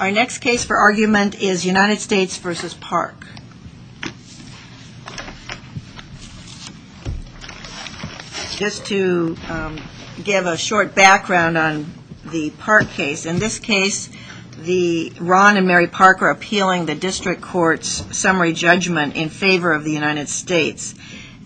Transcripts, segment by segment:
Our next case for argument is United States v. Park. Just to give a short background on the Park case, in this case, Ron and Mary Park are appealing the District Court's summary judgment in favor of the United States.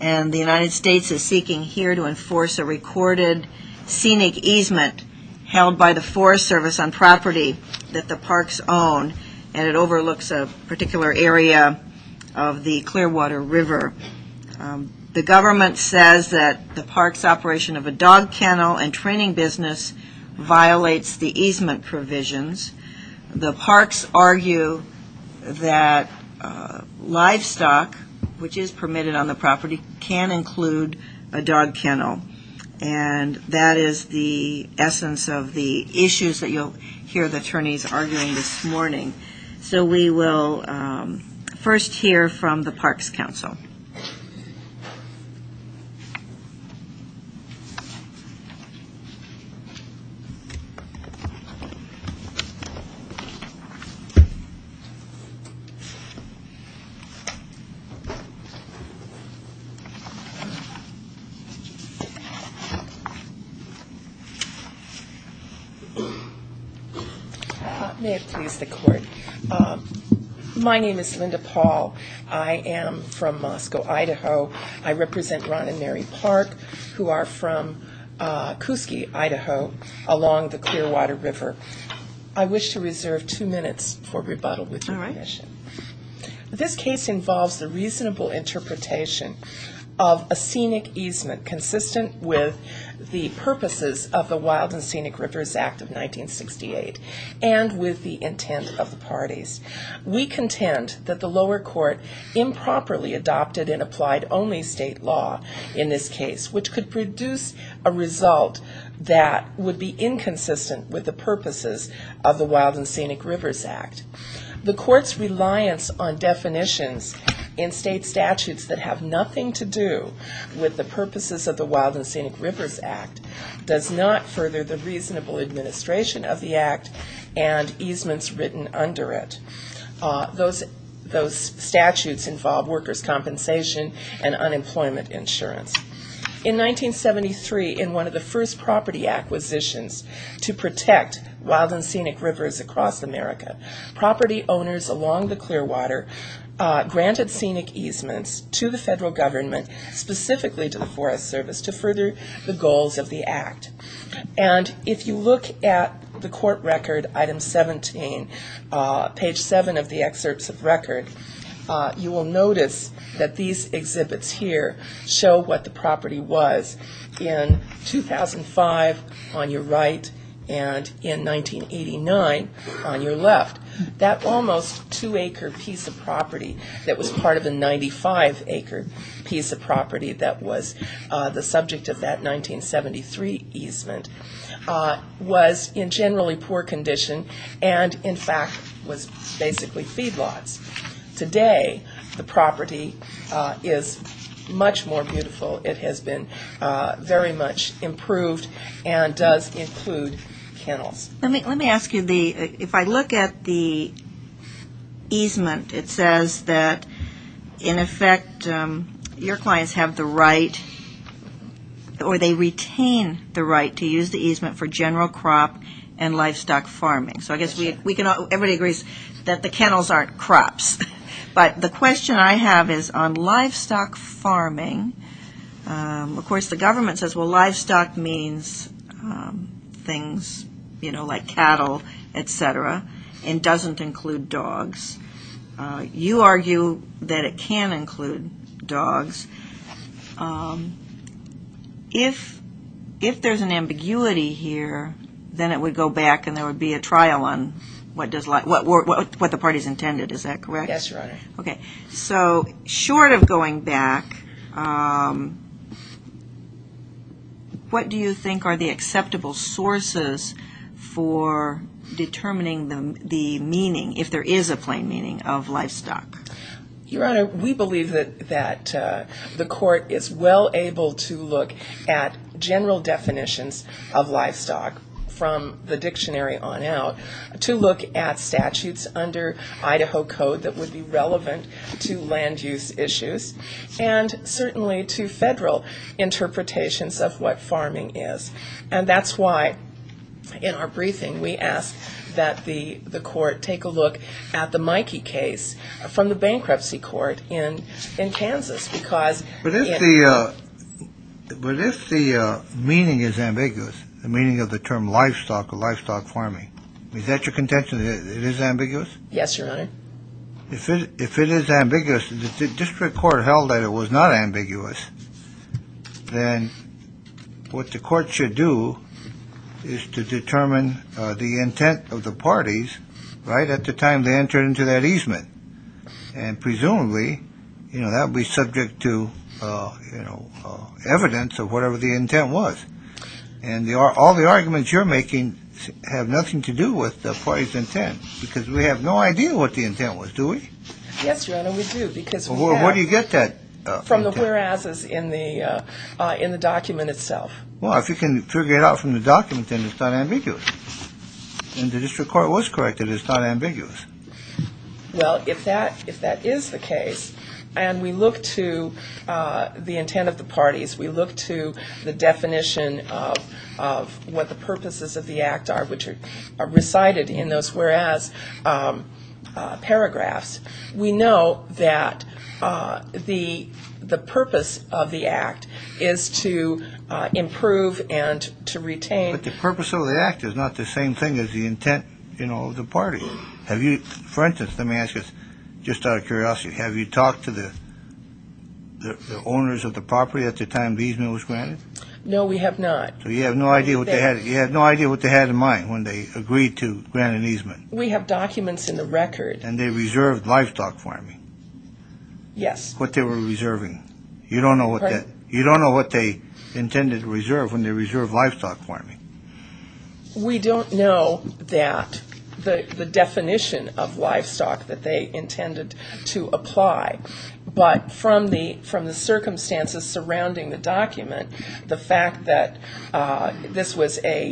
And the United States is seeking here to enforce a recorded scenic easement held by the Forest Service on property that the Parks own. And it overlooks a particular area of the Clearwater River. The government says that the Parks' operation of a dog kennel and training business violates the easement provisions. The Parks argue that livestock, which is permitted on the property, can include a dog kennel. And that is the essence of the issues that you'll hear the attorneys arguing this morning. So we will first hear from the Parks Council. May it please the Court. My name is Linda Paul. I am from Moscow, Idaho. I represent Ron and Mary Park, who are from Kuski, Idaho, along the Clearwater River. I wish to reserve two minutes for rebuttal with your question. This case involves the reasonable interpretation of a scenic easement consistent with the purposes of the Wild and Scenic Rivers Act of 1968 and with the intent of the parties. We contend that the lower court improperly adopted and applied only state law in this case, which could produce a result that would be inconsistent with the purposes of the Wild and Scenic Rivers Act. The court's reliance on definitions in state statutes that have nothing to do with the purposes of the Wild and Scenic Rivers Act does not further the reasonable administration of the Act and easements written under it. Those statutes involve workers' compensation and unemployment insurance. In 1973, in one of the first property acquisitions to protect wild and scenic rivers across America, property owners along the Clearwater granted scenic easements to the federal government, specifically to the Forest Service, to further the goals of the Act. And if you look at the court record, item 17, page 7 of the excerpts of record, you will notice that these exhibits here show what the property was in 2005 on your right and in 1989 on your left. That almost two-acre piece of property that was part of the 95-acre piece of property that was the subject of that 1973 easement was in generally poor condition and, in fact, was basically feedlots. Today, the property is much more beautiful. It has been very much improved and does include kennels. Let me ask you, if I look at the easement, it says that, in effect, your clients have the right or they retain the right to use the easement for general crop and livestock farming. So I guess everybody agrees that the kennels aren't crops. But the question I have is on livestock farming, of course, the government says, well, livestock means things, you know, like cattle, et cetera, and doesn't include dogs. You argue that it can include dogs. If there's an ambiguity here, then it would go back and there would be a trial on what the parties intended, is that correct? Yes, Your Honor. Okay. So short of going back, what do you think are the acceptable sources for determining the meaning, if there is a plain meaning, of livestock? Your Honor, we believe that the court is well able to look at general definitions of livestock from the dictionary on out, to look at statutes under Idaho Code that would be relevant to land use issues, and certainly to federal interpretations of what farming is. And that's why, in our briefing, we asked that the court take a look at the Mikey case from the bankruptcy court in Kansas. But if the meaning is ambiguous, the meaning of the term livestock or livestock farming, is that your contention that it is ambiguous? Yes, Your Honor. If it is ambiguous, if the district court held that it was not ambiguous, then what the court should do is to determine the intent of the parties right at the time they entered into that easement. And presumably, you know, that would be subject to, you know, evidence of whatever the intent was. And all the arguments you're making have nothing to do with the party's intent, because we have no idea what the intent was, do we? Yes, Your Honor, we do. Where do you get that? From the whereases in the document itself. Well, if you can figure it out from the document, then it's not ambiguous. And the district court was correct that it's not ambiguous. Well, if that is the case, and we look to the intent of the parties, we look to the definition of what the purposes of the act are, which are recited in those whereas paragraphs, we know that the purpose of the act is to improve and to retain. But the purpose of the act is not the same thing as the intent, you know, of the party. For instance, let me ask you, just out of curiosity, have you talked to the owners of the property at the time the easement was granted? No, we have not. So you have no idea what they had in mind when they agreed to grant an easement? We have documents in the record. And they reserved livestock farming? Yes. What they were reserving? You don't know what they intended to reserve when they reserved livestock farming? We don't know that, the definition of livestock that they intended to apply. But from the circumstances surrounding the document, the fact that this was approximately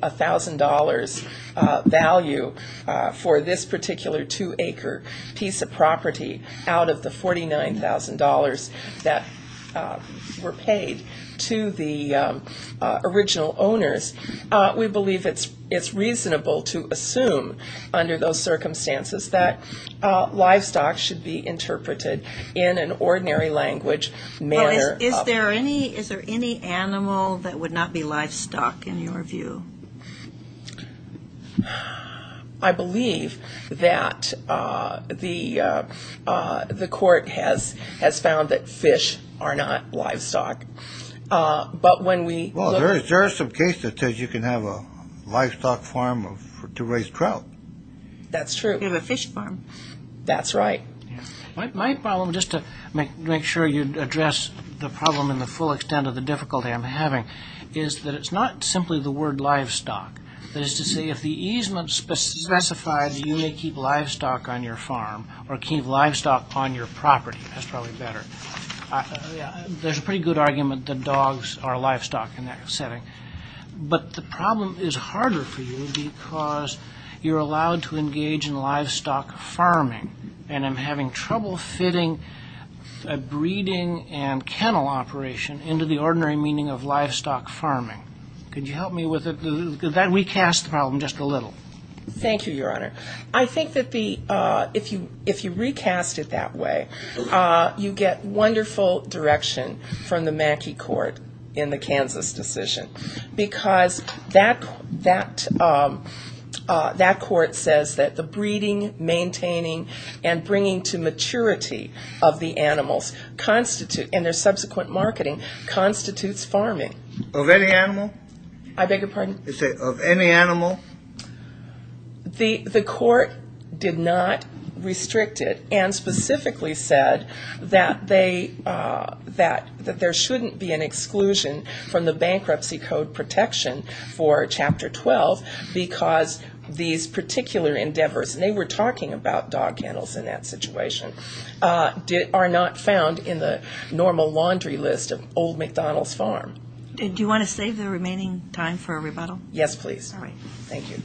$1,000 value for this particular two-acre piece of property out of the $49,000 that were paid to the original owners, we believe it's reasonable to assume under those circumstances that livestock should be interpreted in an ordinary language. Is there any animal that would not be livestock in your view? I believe that the court has found that fish are not livestock. Well, there is some case that says you can have a livestock farm to raise trout. That's true. You have a fish farm. That's right. My problem, just to make sure you address the problem in the full extent of the difficulty I'm having, is that it's not simply the word livestock. That is to say, if the easement specifies that you may keep livestock on your farm or keep livestock on your property, that's probably better. There's a pretty good argument that dogs are livestock in that setting. But the problem is harder for you because you're allowed to engage in livestock farming. And I'm having trouble fitting a breeding and kennel operation into the ordinary meaning of livestock farming. Could you help me with that? Recast the problem just a little. Thank you, Your Honor. I think that if you recast it that way, you get wonderful direction from the Mackey Court in the Kansas decision. Because that court says that the breeding, maintaining, and bringing to maturity of the animals, and their subsequent marketing, constitutes farming. Of any animal? I beg your pardon? Of any animal? The court did not restrict it and specifically said that there shouldn't be an exclusion from the Bankruptcy Code protection for Chapter 12 because these particular endeavors, and they were talking about dog kennels in that situation, are not found in the normal laundry list of Old McDonald's Farm. Do you want to save the remaining time for a rebuttal? Yes, please. All right, thank you.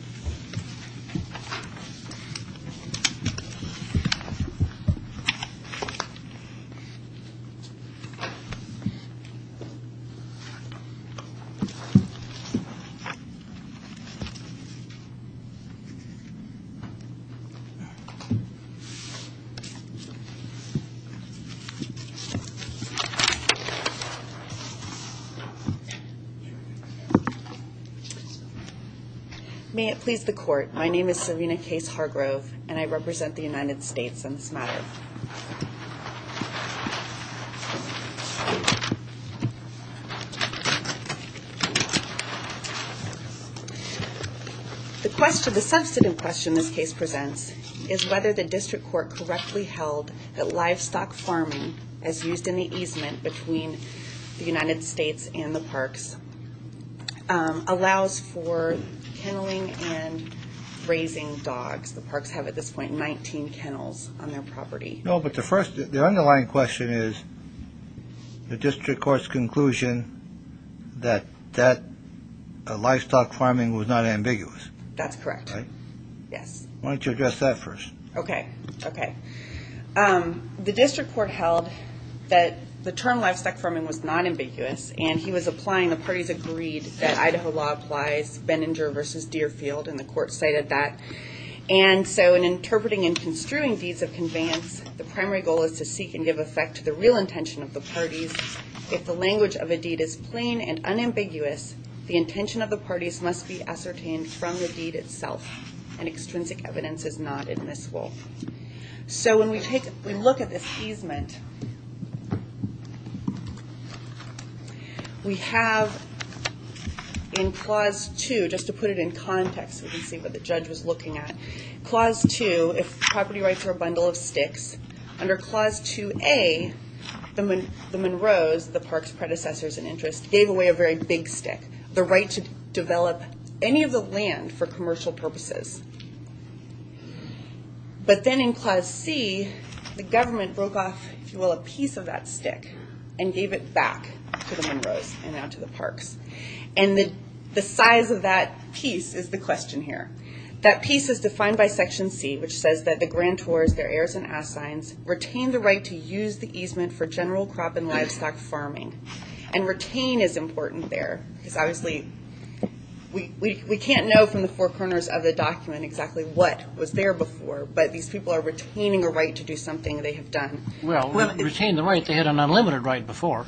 May it please the court. My name is Savina Case Hargrove, and I represent the United States on this matter. The question, the substantive question this case presents, is whether the district court correctly held that livestock farming, as used in the easement between the United States and the parks, allows for kenneling and raising dogs. The parks have, at this point, 19 kennels on their property. No, but the first, the underlying question is the district court's conclusion that that livestock farming was not ambiguous. That's correct, yes. Why don't you address that first? Okay, okay. The district court held that the term livestock farming was not ambiguous, and he was applying the parties agreed that Idaho law applies, Benninger versus Deerfield, and the court cited that. And so in interpreting and construing deeds of conveyance, the primary goal is to seek and give effect to the real intention of the parties. If the language of a deed is plain and unambiguous, the intention of the parties must be ascertained from the deed itself, and extrinsic evidence is not admissible. So when we look at this easement, we have in Clause 2, just to put it in context so we can see what the judge was looking at, Clause 2, if property rights are a bundle of sticks, under Clause 2A, the Monroes, the park's predecessors in interest, gave away a very big stick, the right to develop any of the land for commercial purposes. But then in Clause C, the government broke off, if you will, a piece of that stick and gave it back to the Monroes and now to the parks. And the size of that piece is the question here. That piece is defined by Section C, which says that the grantors, their heirs and assigns, retain the right to use the easement for general crop and livestock farming. And retain is important there, because obviously we can't know from the four corners of the document exactly what was there before, but these people are retaining a right to do something they have done. Well, retain the right, they had an unlimited right before,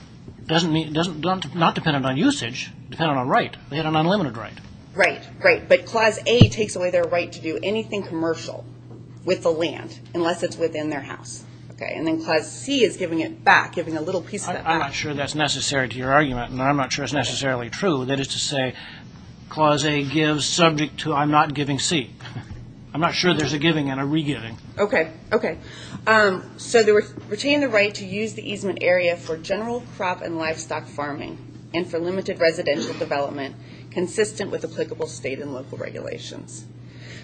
not dependent on usage, dependent on right. They had an unlimited right. Right, but Clause A takes away their right to do anything commercial with the land, unless it's within their house. And then Clause C is giving it back, giving a little piece of that back. I'm not sure that's necessary to your argument, and I'm not sure it's necessarily true. That is to say, Clause A gives subject to, I'm not giving C. I'm not sure there's a giving and a re-giving. Okay, okay. So they retain the right to use the easement area for general crop and livestock farming, and for limited residential development, consistent with applicable state and local regulations.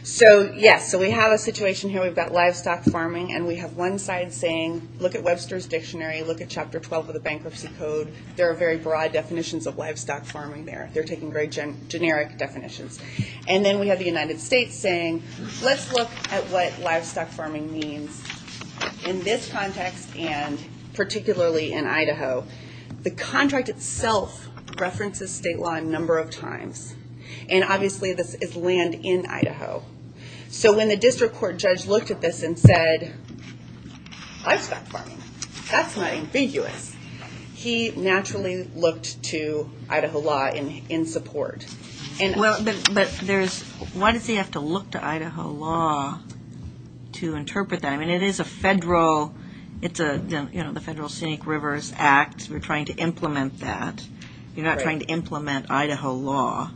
So, yes, so we have a situation here. We've got livestock farming, and we have one side saying, look at Webster's Dictionary, look at Chapter 12 of the Bankruptcy Code. There are very broad definitions of livestock farming there. They're taking very generic definitions. And then we have the United States saying, let's look at what livestock farming means in this context, and particularly in Idaho. The contract itself references state law a number of times, and obviously this is land in Idaho. So when the district court judge looked at this and said, livestock farming, that's not ambiguous, he naturally looked to Idaho law in support. But why does he have to look to Idaho law to interpret that? I mean, it is a federal, it's the Federal Scenic Rivers Act. We're trying to implement that. You're not trying to implement Idaho law,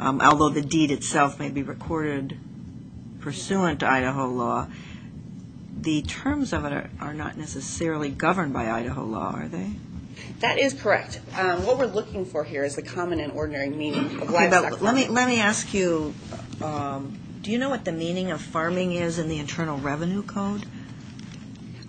although the deed itself may be recorded pursuant to Idaho law. The terms of it are not necessarily governed by Idaho law, are they? That is correct. What we're looking for here is the common and ordinary meaning of livestock farming. Let me ask you, do you know what the meaning of farming is in the Internal Revenue Code?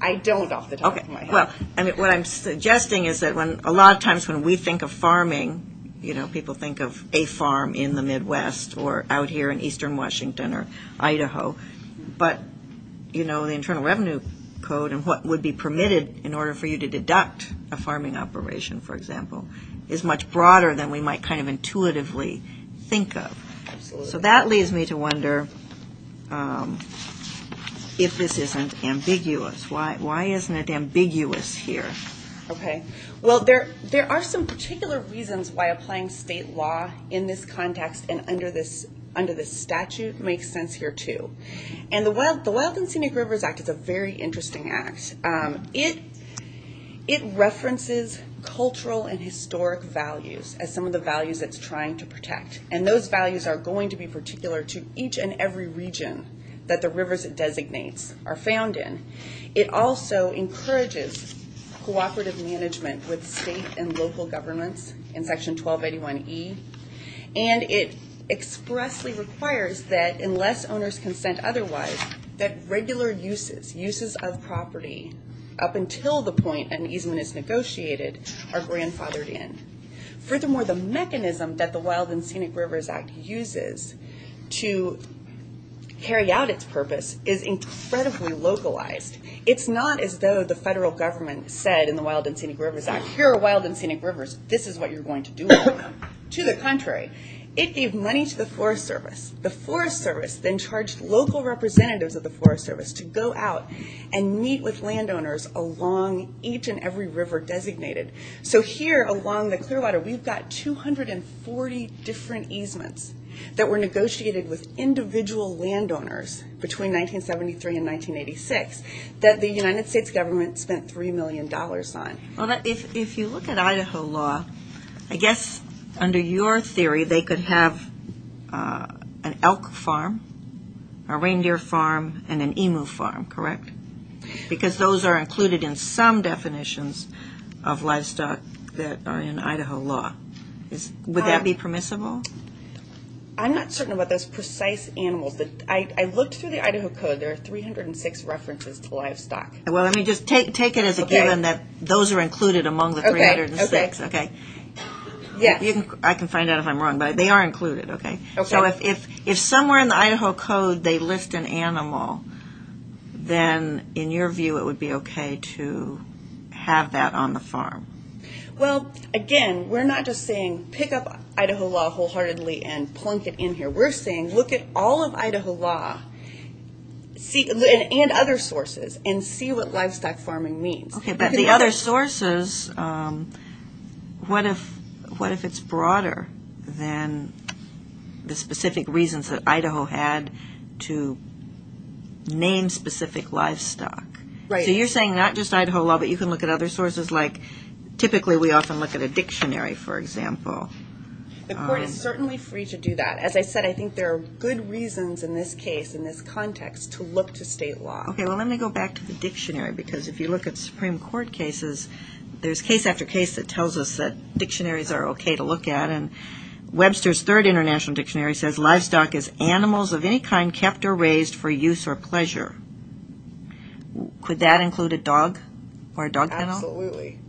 I don't off the top of my head. Well, what I'm suggesting is that a lot of times when we think of farming, you know, people think of a farm in the Midwest or out here in eastern Washington or Idaho. But, you know, the Internal Revenue Code and what would be permitted in order for you to deduct a farming operation, for example, is much broader than we might kind of intuitively think of. So that leads me to wonder if this isn't ambiguous. Why isn't it ambiguous here? Okay. Well, there are some particular reasons why applying state law in this context and under this statute makes sense here, too. And the Wild and Scenic Rivers Act is a very interesting act. It references cultural and historic values as some of the values it's trying to protect. And those values are going to be particular to each and every region that the rivers it designates are found in. It also encourages cooperative management with state and local governments in Section 1281E. And it expressly requires that unless owners consent otherwise, that regular uses, uses of property, up until the point an easement is negotiated, are grandfathered in. Furthermore, the mechanism that the Wild and Scenic Rivers Act uses to carry out its purpose is incredibly localized. It's not as though the federal government said in the Wild and Scenic Rivers Act, here are wild and scenic rivers, this is what you're going to do with them. To the contrary, it gave money to the Forest Service. The Forest Service then charged local representatives of the Forest Service to go out and meet with landowners along each and every river designated. So here, along the Clearwater, we've got 240 different easements that were negotiated with individual landowners between 1973 and 1986 that the United States government spent $3 million on. Well, if you look at Idaho law, I guess under your theory they could have an elk farm, a reindeer farm, and an emu farm, correct? Because those are included in some definitions of livestock that are in Idaho law. Would that be permissible? I'm not certain about those precise animals. I looked through the Idaho Code. There are 306 references to livestock. Well, let me just take it as a given that those are included among the 306, okay? Yeah. I can find out if I'm wrong, but they are included, okay? So if somewhere in the Idaho Code they list an animal, then in your view it would be okay to have that on the farm? Well, again, we're not just saying pick up Idaho law wholeheartedly and plunk it in here. We're saying look at all of Idaho law and other sources and see what livestock farming means. Okay, but the other sources, what if it's broader than the specific reasons that Idaho had to name specific livestock? Right. So you're saying not just Idaho law, but you can look at other sources like typically we often look at a dictionary, for example. The court is certainly free to do that. As I said, I think there are good reasons in this case, in this context, to look to state law. Okay, well, let me go back to the dictionary because if you look at Supreme Court cases, there's case after case that tells us that dictionaries are okay to look at, and Webster's Third International Dictionary says livestock is animals of any kind kept or raised for use or pleasure. Could that include a dog or a dog kennel? Absolutely.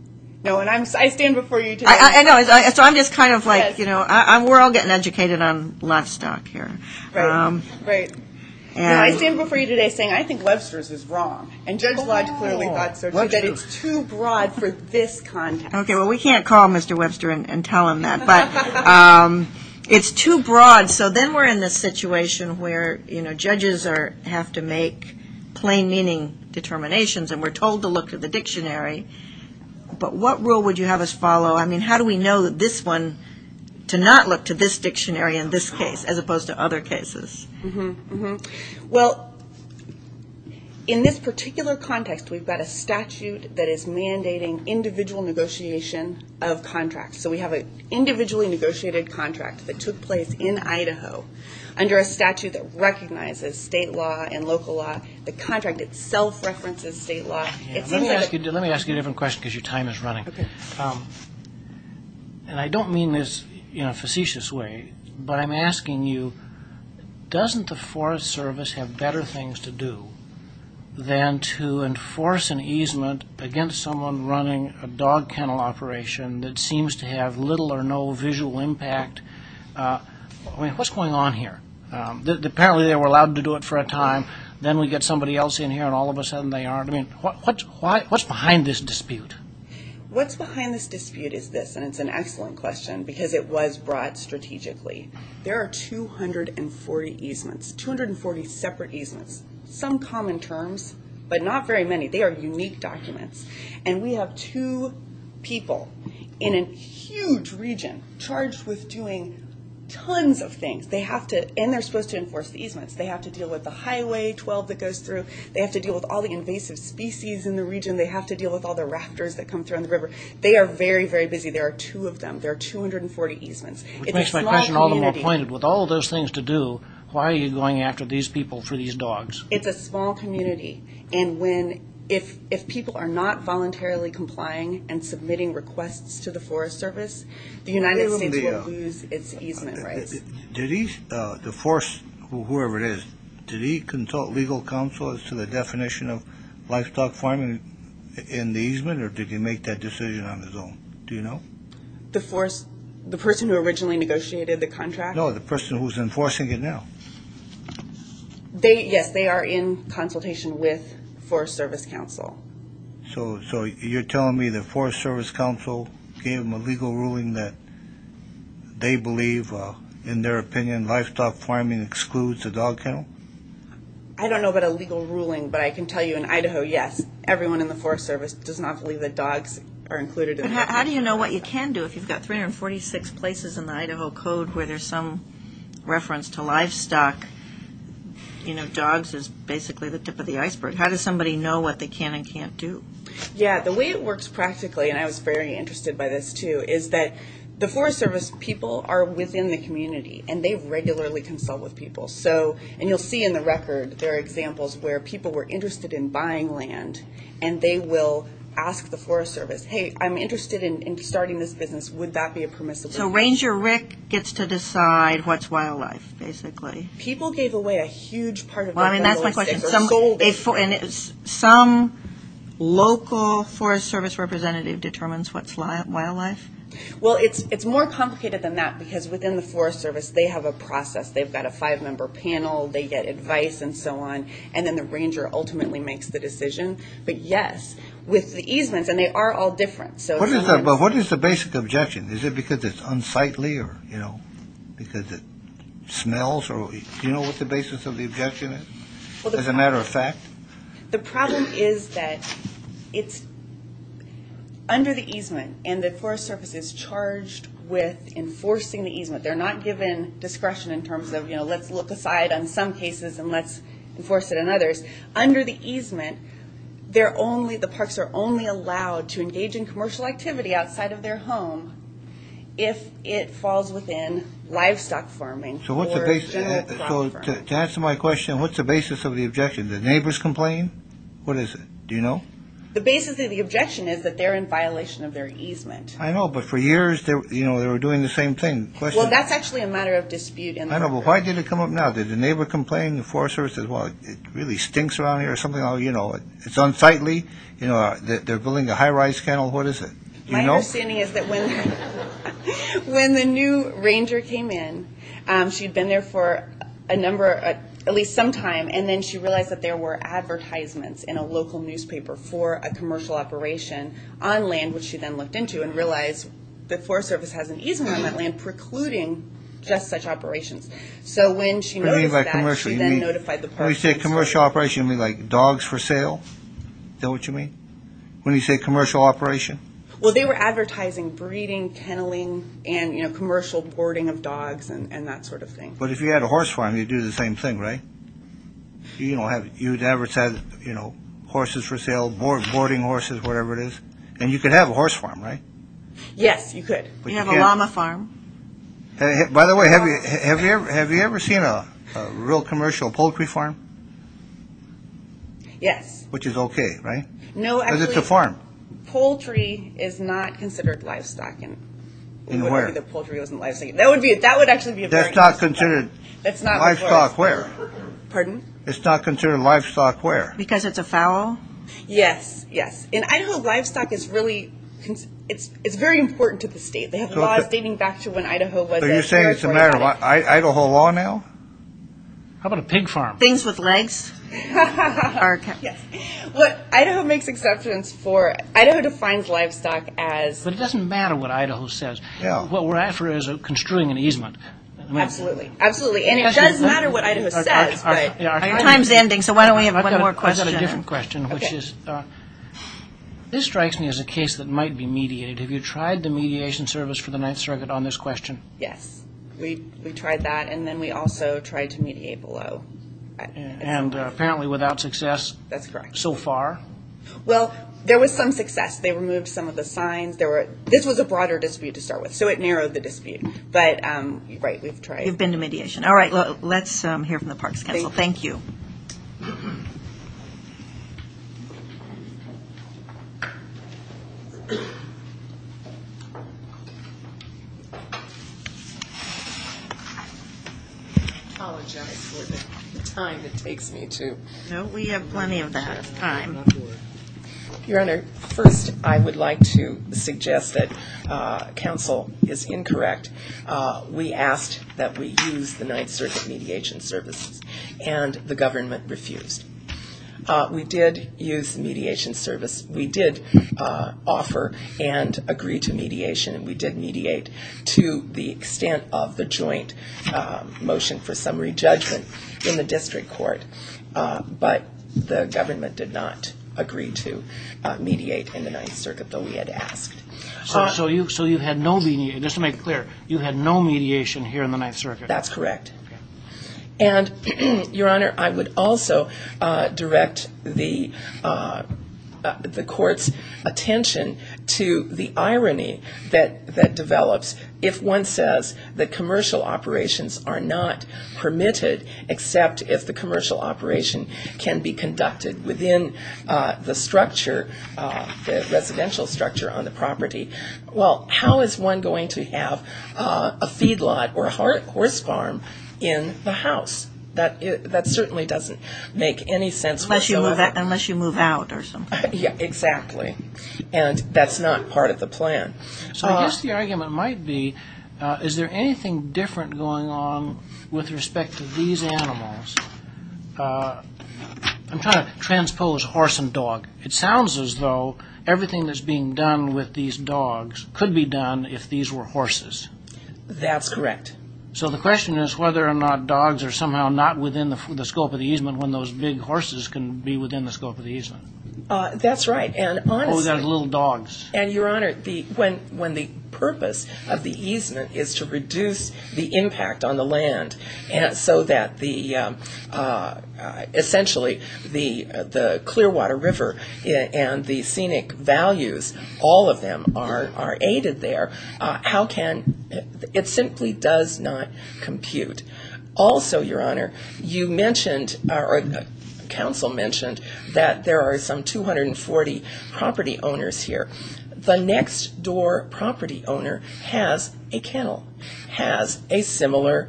No, and I stand before you today. I know, so I'm just kind of like, you know, we're all getting educated on livestock here. Right, right. I stand before you today saying I think Webster's is wrong, and Judge Lodge clearly thought so, that it's too broad for this context. Okay, well, we can't call Mr. Webster and tell him that, but it's too broad. So then we're in this situation where, you know, judges have to make plain meaning determinations, and we're told to look at the dictionary, but what rule would you have us follow? I mean, how do we know this one to not look to this dictionary in this case as opposed to other cases? Well, in this particular context, we've got a statute that is mandating individual negotiation of contracts. So we have an individually negotiated contract that took place in Idaho under a statute that recognizes state law and local law. The contract itself references state law. Let me ask you a different question because your time is running. And I don't mean this in a facetious way, but I'm asking you, doesn't the Forest Service have better things to do than to enforce an easement against someone running a dog kennel operation that seems to have little or no visual impact? I mean, what's going on here? Apparently they were allowed to do it for a time. Then we get somebody else in here, and all of a sudden they aren't. I mean, what's behind this dispute? What's behind this dispute is this, and it's an excellent question because it was brought strategically. There are 240 easements, 240 separate easements, some common terms, but not very many. They are unique documents. And we have two people in a huge region charged with doing tons of things. And they're supposed to enforce the easements. They have to deal with the Highway 12 that goes through. They have to deal with all the invasive species in the region. They have to deal with all the raptors that come through on the river. They are very, very busy. There are two of them. There are 240 easements. It's a small community. Which makes my question all the more pointed. With all those things to do, why are you going after these people for these dogs? It's a small community. And if people are not voluntarily complying and submitting requests to the Forest Service, the United States will lose its easement rights. Whoever it is, did he consult legal counsel as to the definition of livestock farming in the easement, or did he make that decision on his own? Do you know? The person who originally negotiated the contract? No, the person who's enforcing it now. Yes, they are in consultation with Forest Service counsel. So you're telling me the Forest Service counsel gave them a legal ruling that they believe, in their opinion, livestock farming excludes the dog kennel? I don't know about a legal ruling, but I can tell you in Idaho, yes, everyone in the Forest Service does not believe that dogs are included in the easement. How do you know what you can do if you've got 346 places in the Idaho Code where there's some reference to livestock? You know, dogs is basically the tip of the iceberg. How does somebody know what they can and can't do? Yeah, the way it works practically, and I was very interested by this, too, is that the Forest Service people are within the community, and they regularly consult with people. And you'll see in the record there are examples where people were interested in buying land, and they will ask the Forest Service, hey, I'm interested in starting this business. Would that be a permissible business? So Ranger Rick gets to decide what's wildlife, basically. People gave away a huge part of their dogs. Well, I mean, that's my question. Some local Forest Service representative determines what's wildlife? Well, it's more complicated than that because within the Forest Service they have a process. They've got a five-member panel. They get advice and so on, and then the ranger ultimately makes the decision. But, yes, with the easements, and they are all different. But what is the basic objection? Is it because it's unsightly or, you know, because it smells? Do you know what the basis of the objection is, as a matter of fact? The problem is that it's under the easement, and the Forest Service is charged with enforcing the easement. They're not given discretion in terms of, you know, let's look aside on some cases and let's enforce it on others. Under the easement, the parks are only allowed to engage in commercial activity outside of their home if it falls within livestock farming or general crop farming. So to answer my question, what's the basis of the objection? Do the neighbors complain? What is it? Do you know? The basis of the objection is that they're in violation of their easement. I know, but for years, you know, they were doing the same thing. Well, that's actually a matter of dispute. I know, but why did it come up now? Did the neighbor complain? The Forest Service says, well, it really stinks around here or something? Oh, you know, it's unsightly. You know, they're building a high-rise kennel. What is it? Do you know? My understanding is that when the new ranger came in, she'd been there for a number, at least some time, and then she realized that there were advertisements in a local newspaper for a commercial operation on land, which she then looked into and realized the Forest Service has an easement on that land precluding just such operations. So when she noticed that, she then notified the parks. When you say commercial operation, you mean like dogs for sale? Is that what you mean? When you say commercial operation? Well, they were advertising breeding, kenneling, and, you know, commercial boarding of dogs and that sort of thing. But if you had a horse farm, you'd do the same thing, right? You know, you'd advertise, you know, horses for sale, boarding horses, whatever it is. And you could have a horse farm, right? Yes, you could. You have a llama farm. By the way, have you ever seen a real commercial poultry farm? Yes. Which is okay, right? No, actually. Because it's a farm. Poultry is not considered livestock. In where? It wouldn't be that poultry wasn't livestock. That would actually be a very interesting point. That's not considered livestock where? Pardon? It's not considered livestock where? Because it's a fowl? Yes, yes. In Idaho, livestock is really, it's very important to the state. They have laws dating back to when Idaho was a territory. So you're saying it's a matter of Idaho law now? How about a pig farm? Things with legs. Yes. What Idaho makes exceptions for, Idaho defines livestock as? But it doesn't matter what Idaho says. What we're after is construing an easement. Absolutely. Absolutely. And it does matter what Idaho says. Our time is ending, so why don't we have one more question? I've got a different question, which is, this strikes me as a case that might be mediated. Have you tried the mediation service for the Ninth Circuit on this question? Yes. We tried that, and then we also tried to mediate below. And apparently without success. That's correct. So far. Well, there was some success. They removed some of the signs. This was a broader dispute to start with, so it narrowed the dispute. But, right, we've tried. You've been to mediation. All right, let's hear from the Parks Council. Thank you. I apologize for the time it takes me to. No, we have plenty of that time. Your Honor, first, I would like to suggest that counsel is incorrect. We asked that we use the Ninth Circuit mediation services, and the government refused. We did use the mediation service. We did offer and agree to mediation, and we did mediate to the extent of the joint motion for summary judgment in the district court. But the government did not agree to mediate in the Ninth Circuit, though we had asked. So you had no mediation. Just to make it clear, you had no mediation here in the Ninth Circuit. That's correct. And, Your Honor, I would also direct the court's attention to the irony that develops if one says that commercial operations are not permitted, except if the commercial operation can be conducted within the structure, the residential structure on the property. Well, how is one going to have a feedlot or a horse farm in the house? That certainly doesn't make any sense whatsoever. Unless you move out or something. Yeah, exactly. And that's not part of the plan. So I guess the argument might be, is there anything different going on with respect to these animals? I'm trying to transpose horse and dog. It sounds as though everything that's being done with these dogs could be done if these were horses. That's correct. So the question is whether or not dogs are somehow not within the scope of the easement when those big horses can be within the scope of the easement. That's right. Or those little dogs. And, Your Honor, when the purpose of the easement is to reduce the impact on the land so that essentially the Clearwater River and the scenic values, all of them are aided there, how can ‑‑ it simply does not compute. Also, Your Honor, you mentioned or counsel mentioned that there are some 240 property owners here. The next door property owner has a kennel, has a similar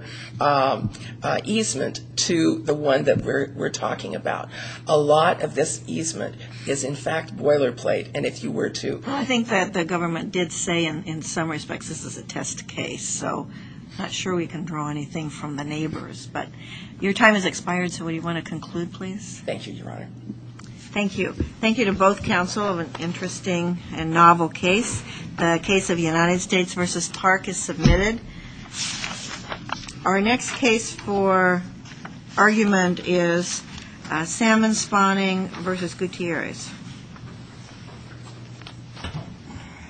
easement to the one that we're talking about. A lot of this easement is, in fact, boilerplate, and if you were to ‑‑ Your time has expired, so would you want to conclude, please? Thank you, Your Honor. Thank you. Thank you to both counsel of an interesting and novel case. The case of United States v. Park is submitted. Our next case for argument is Salmon Spawning v. Gutierrez.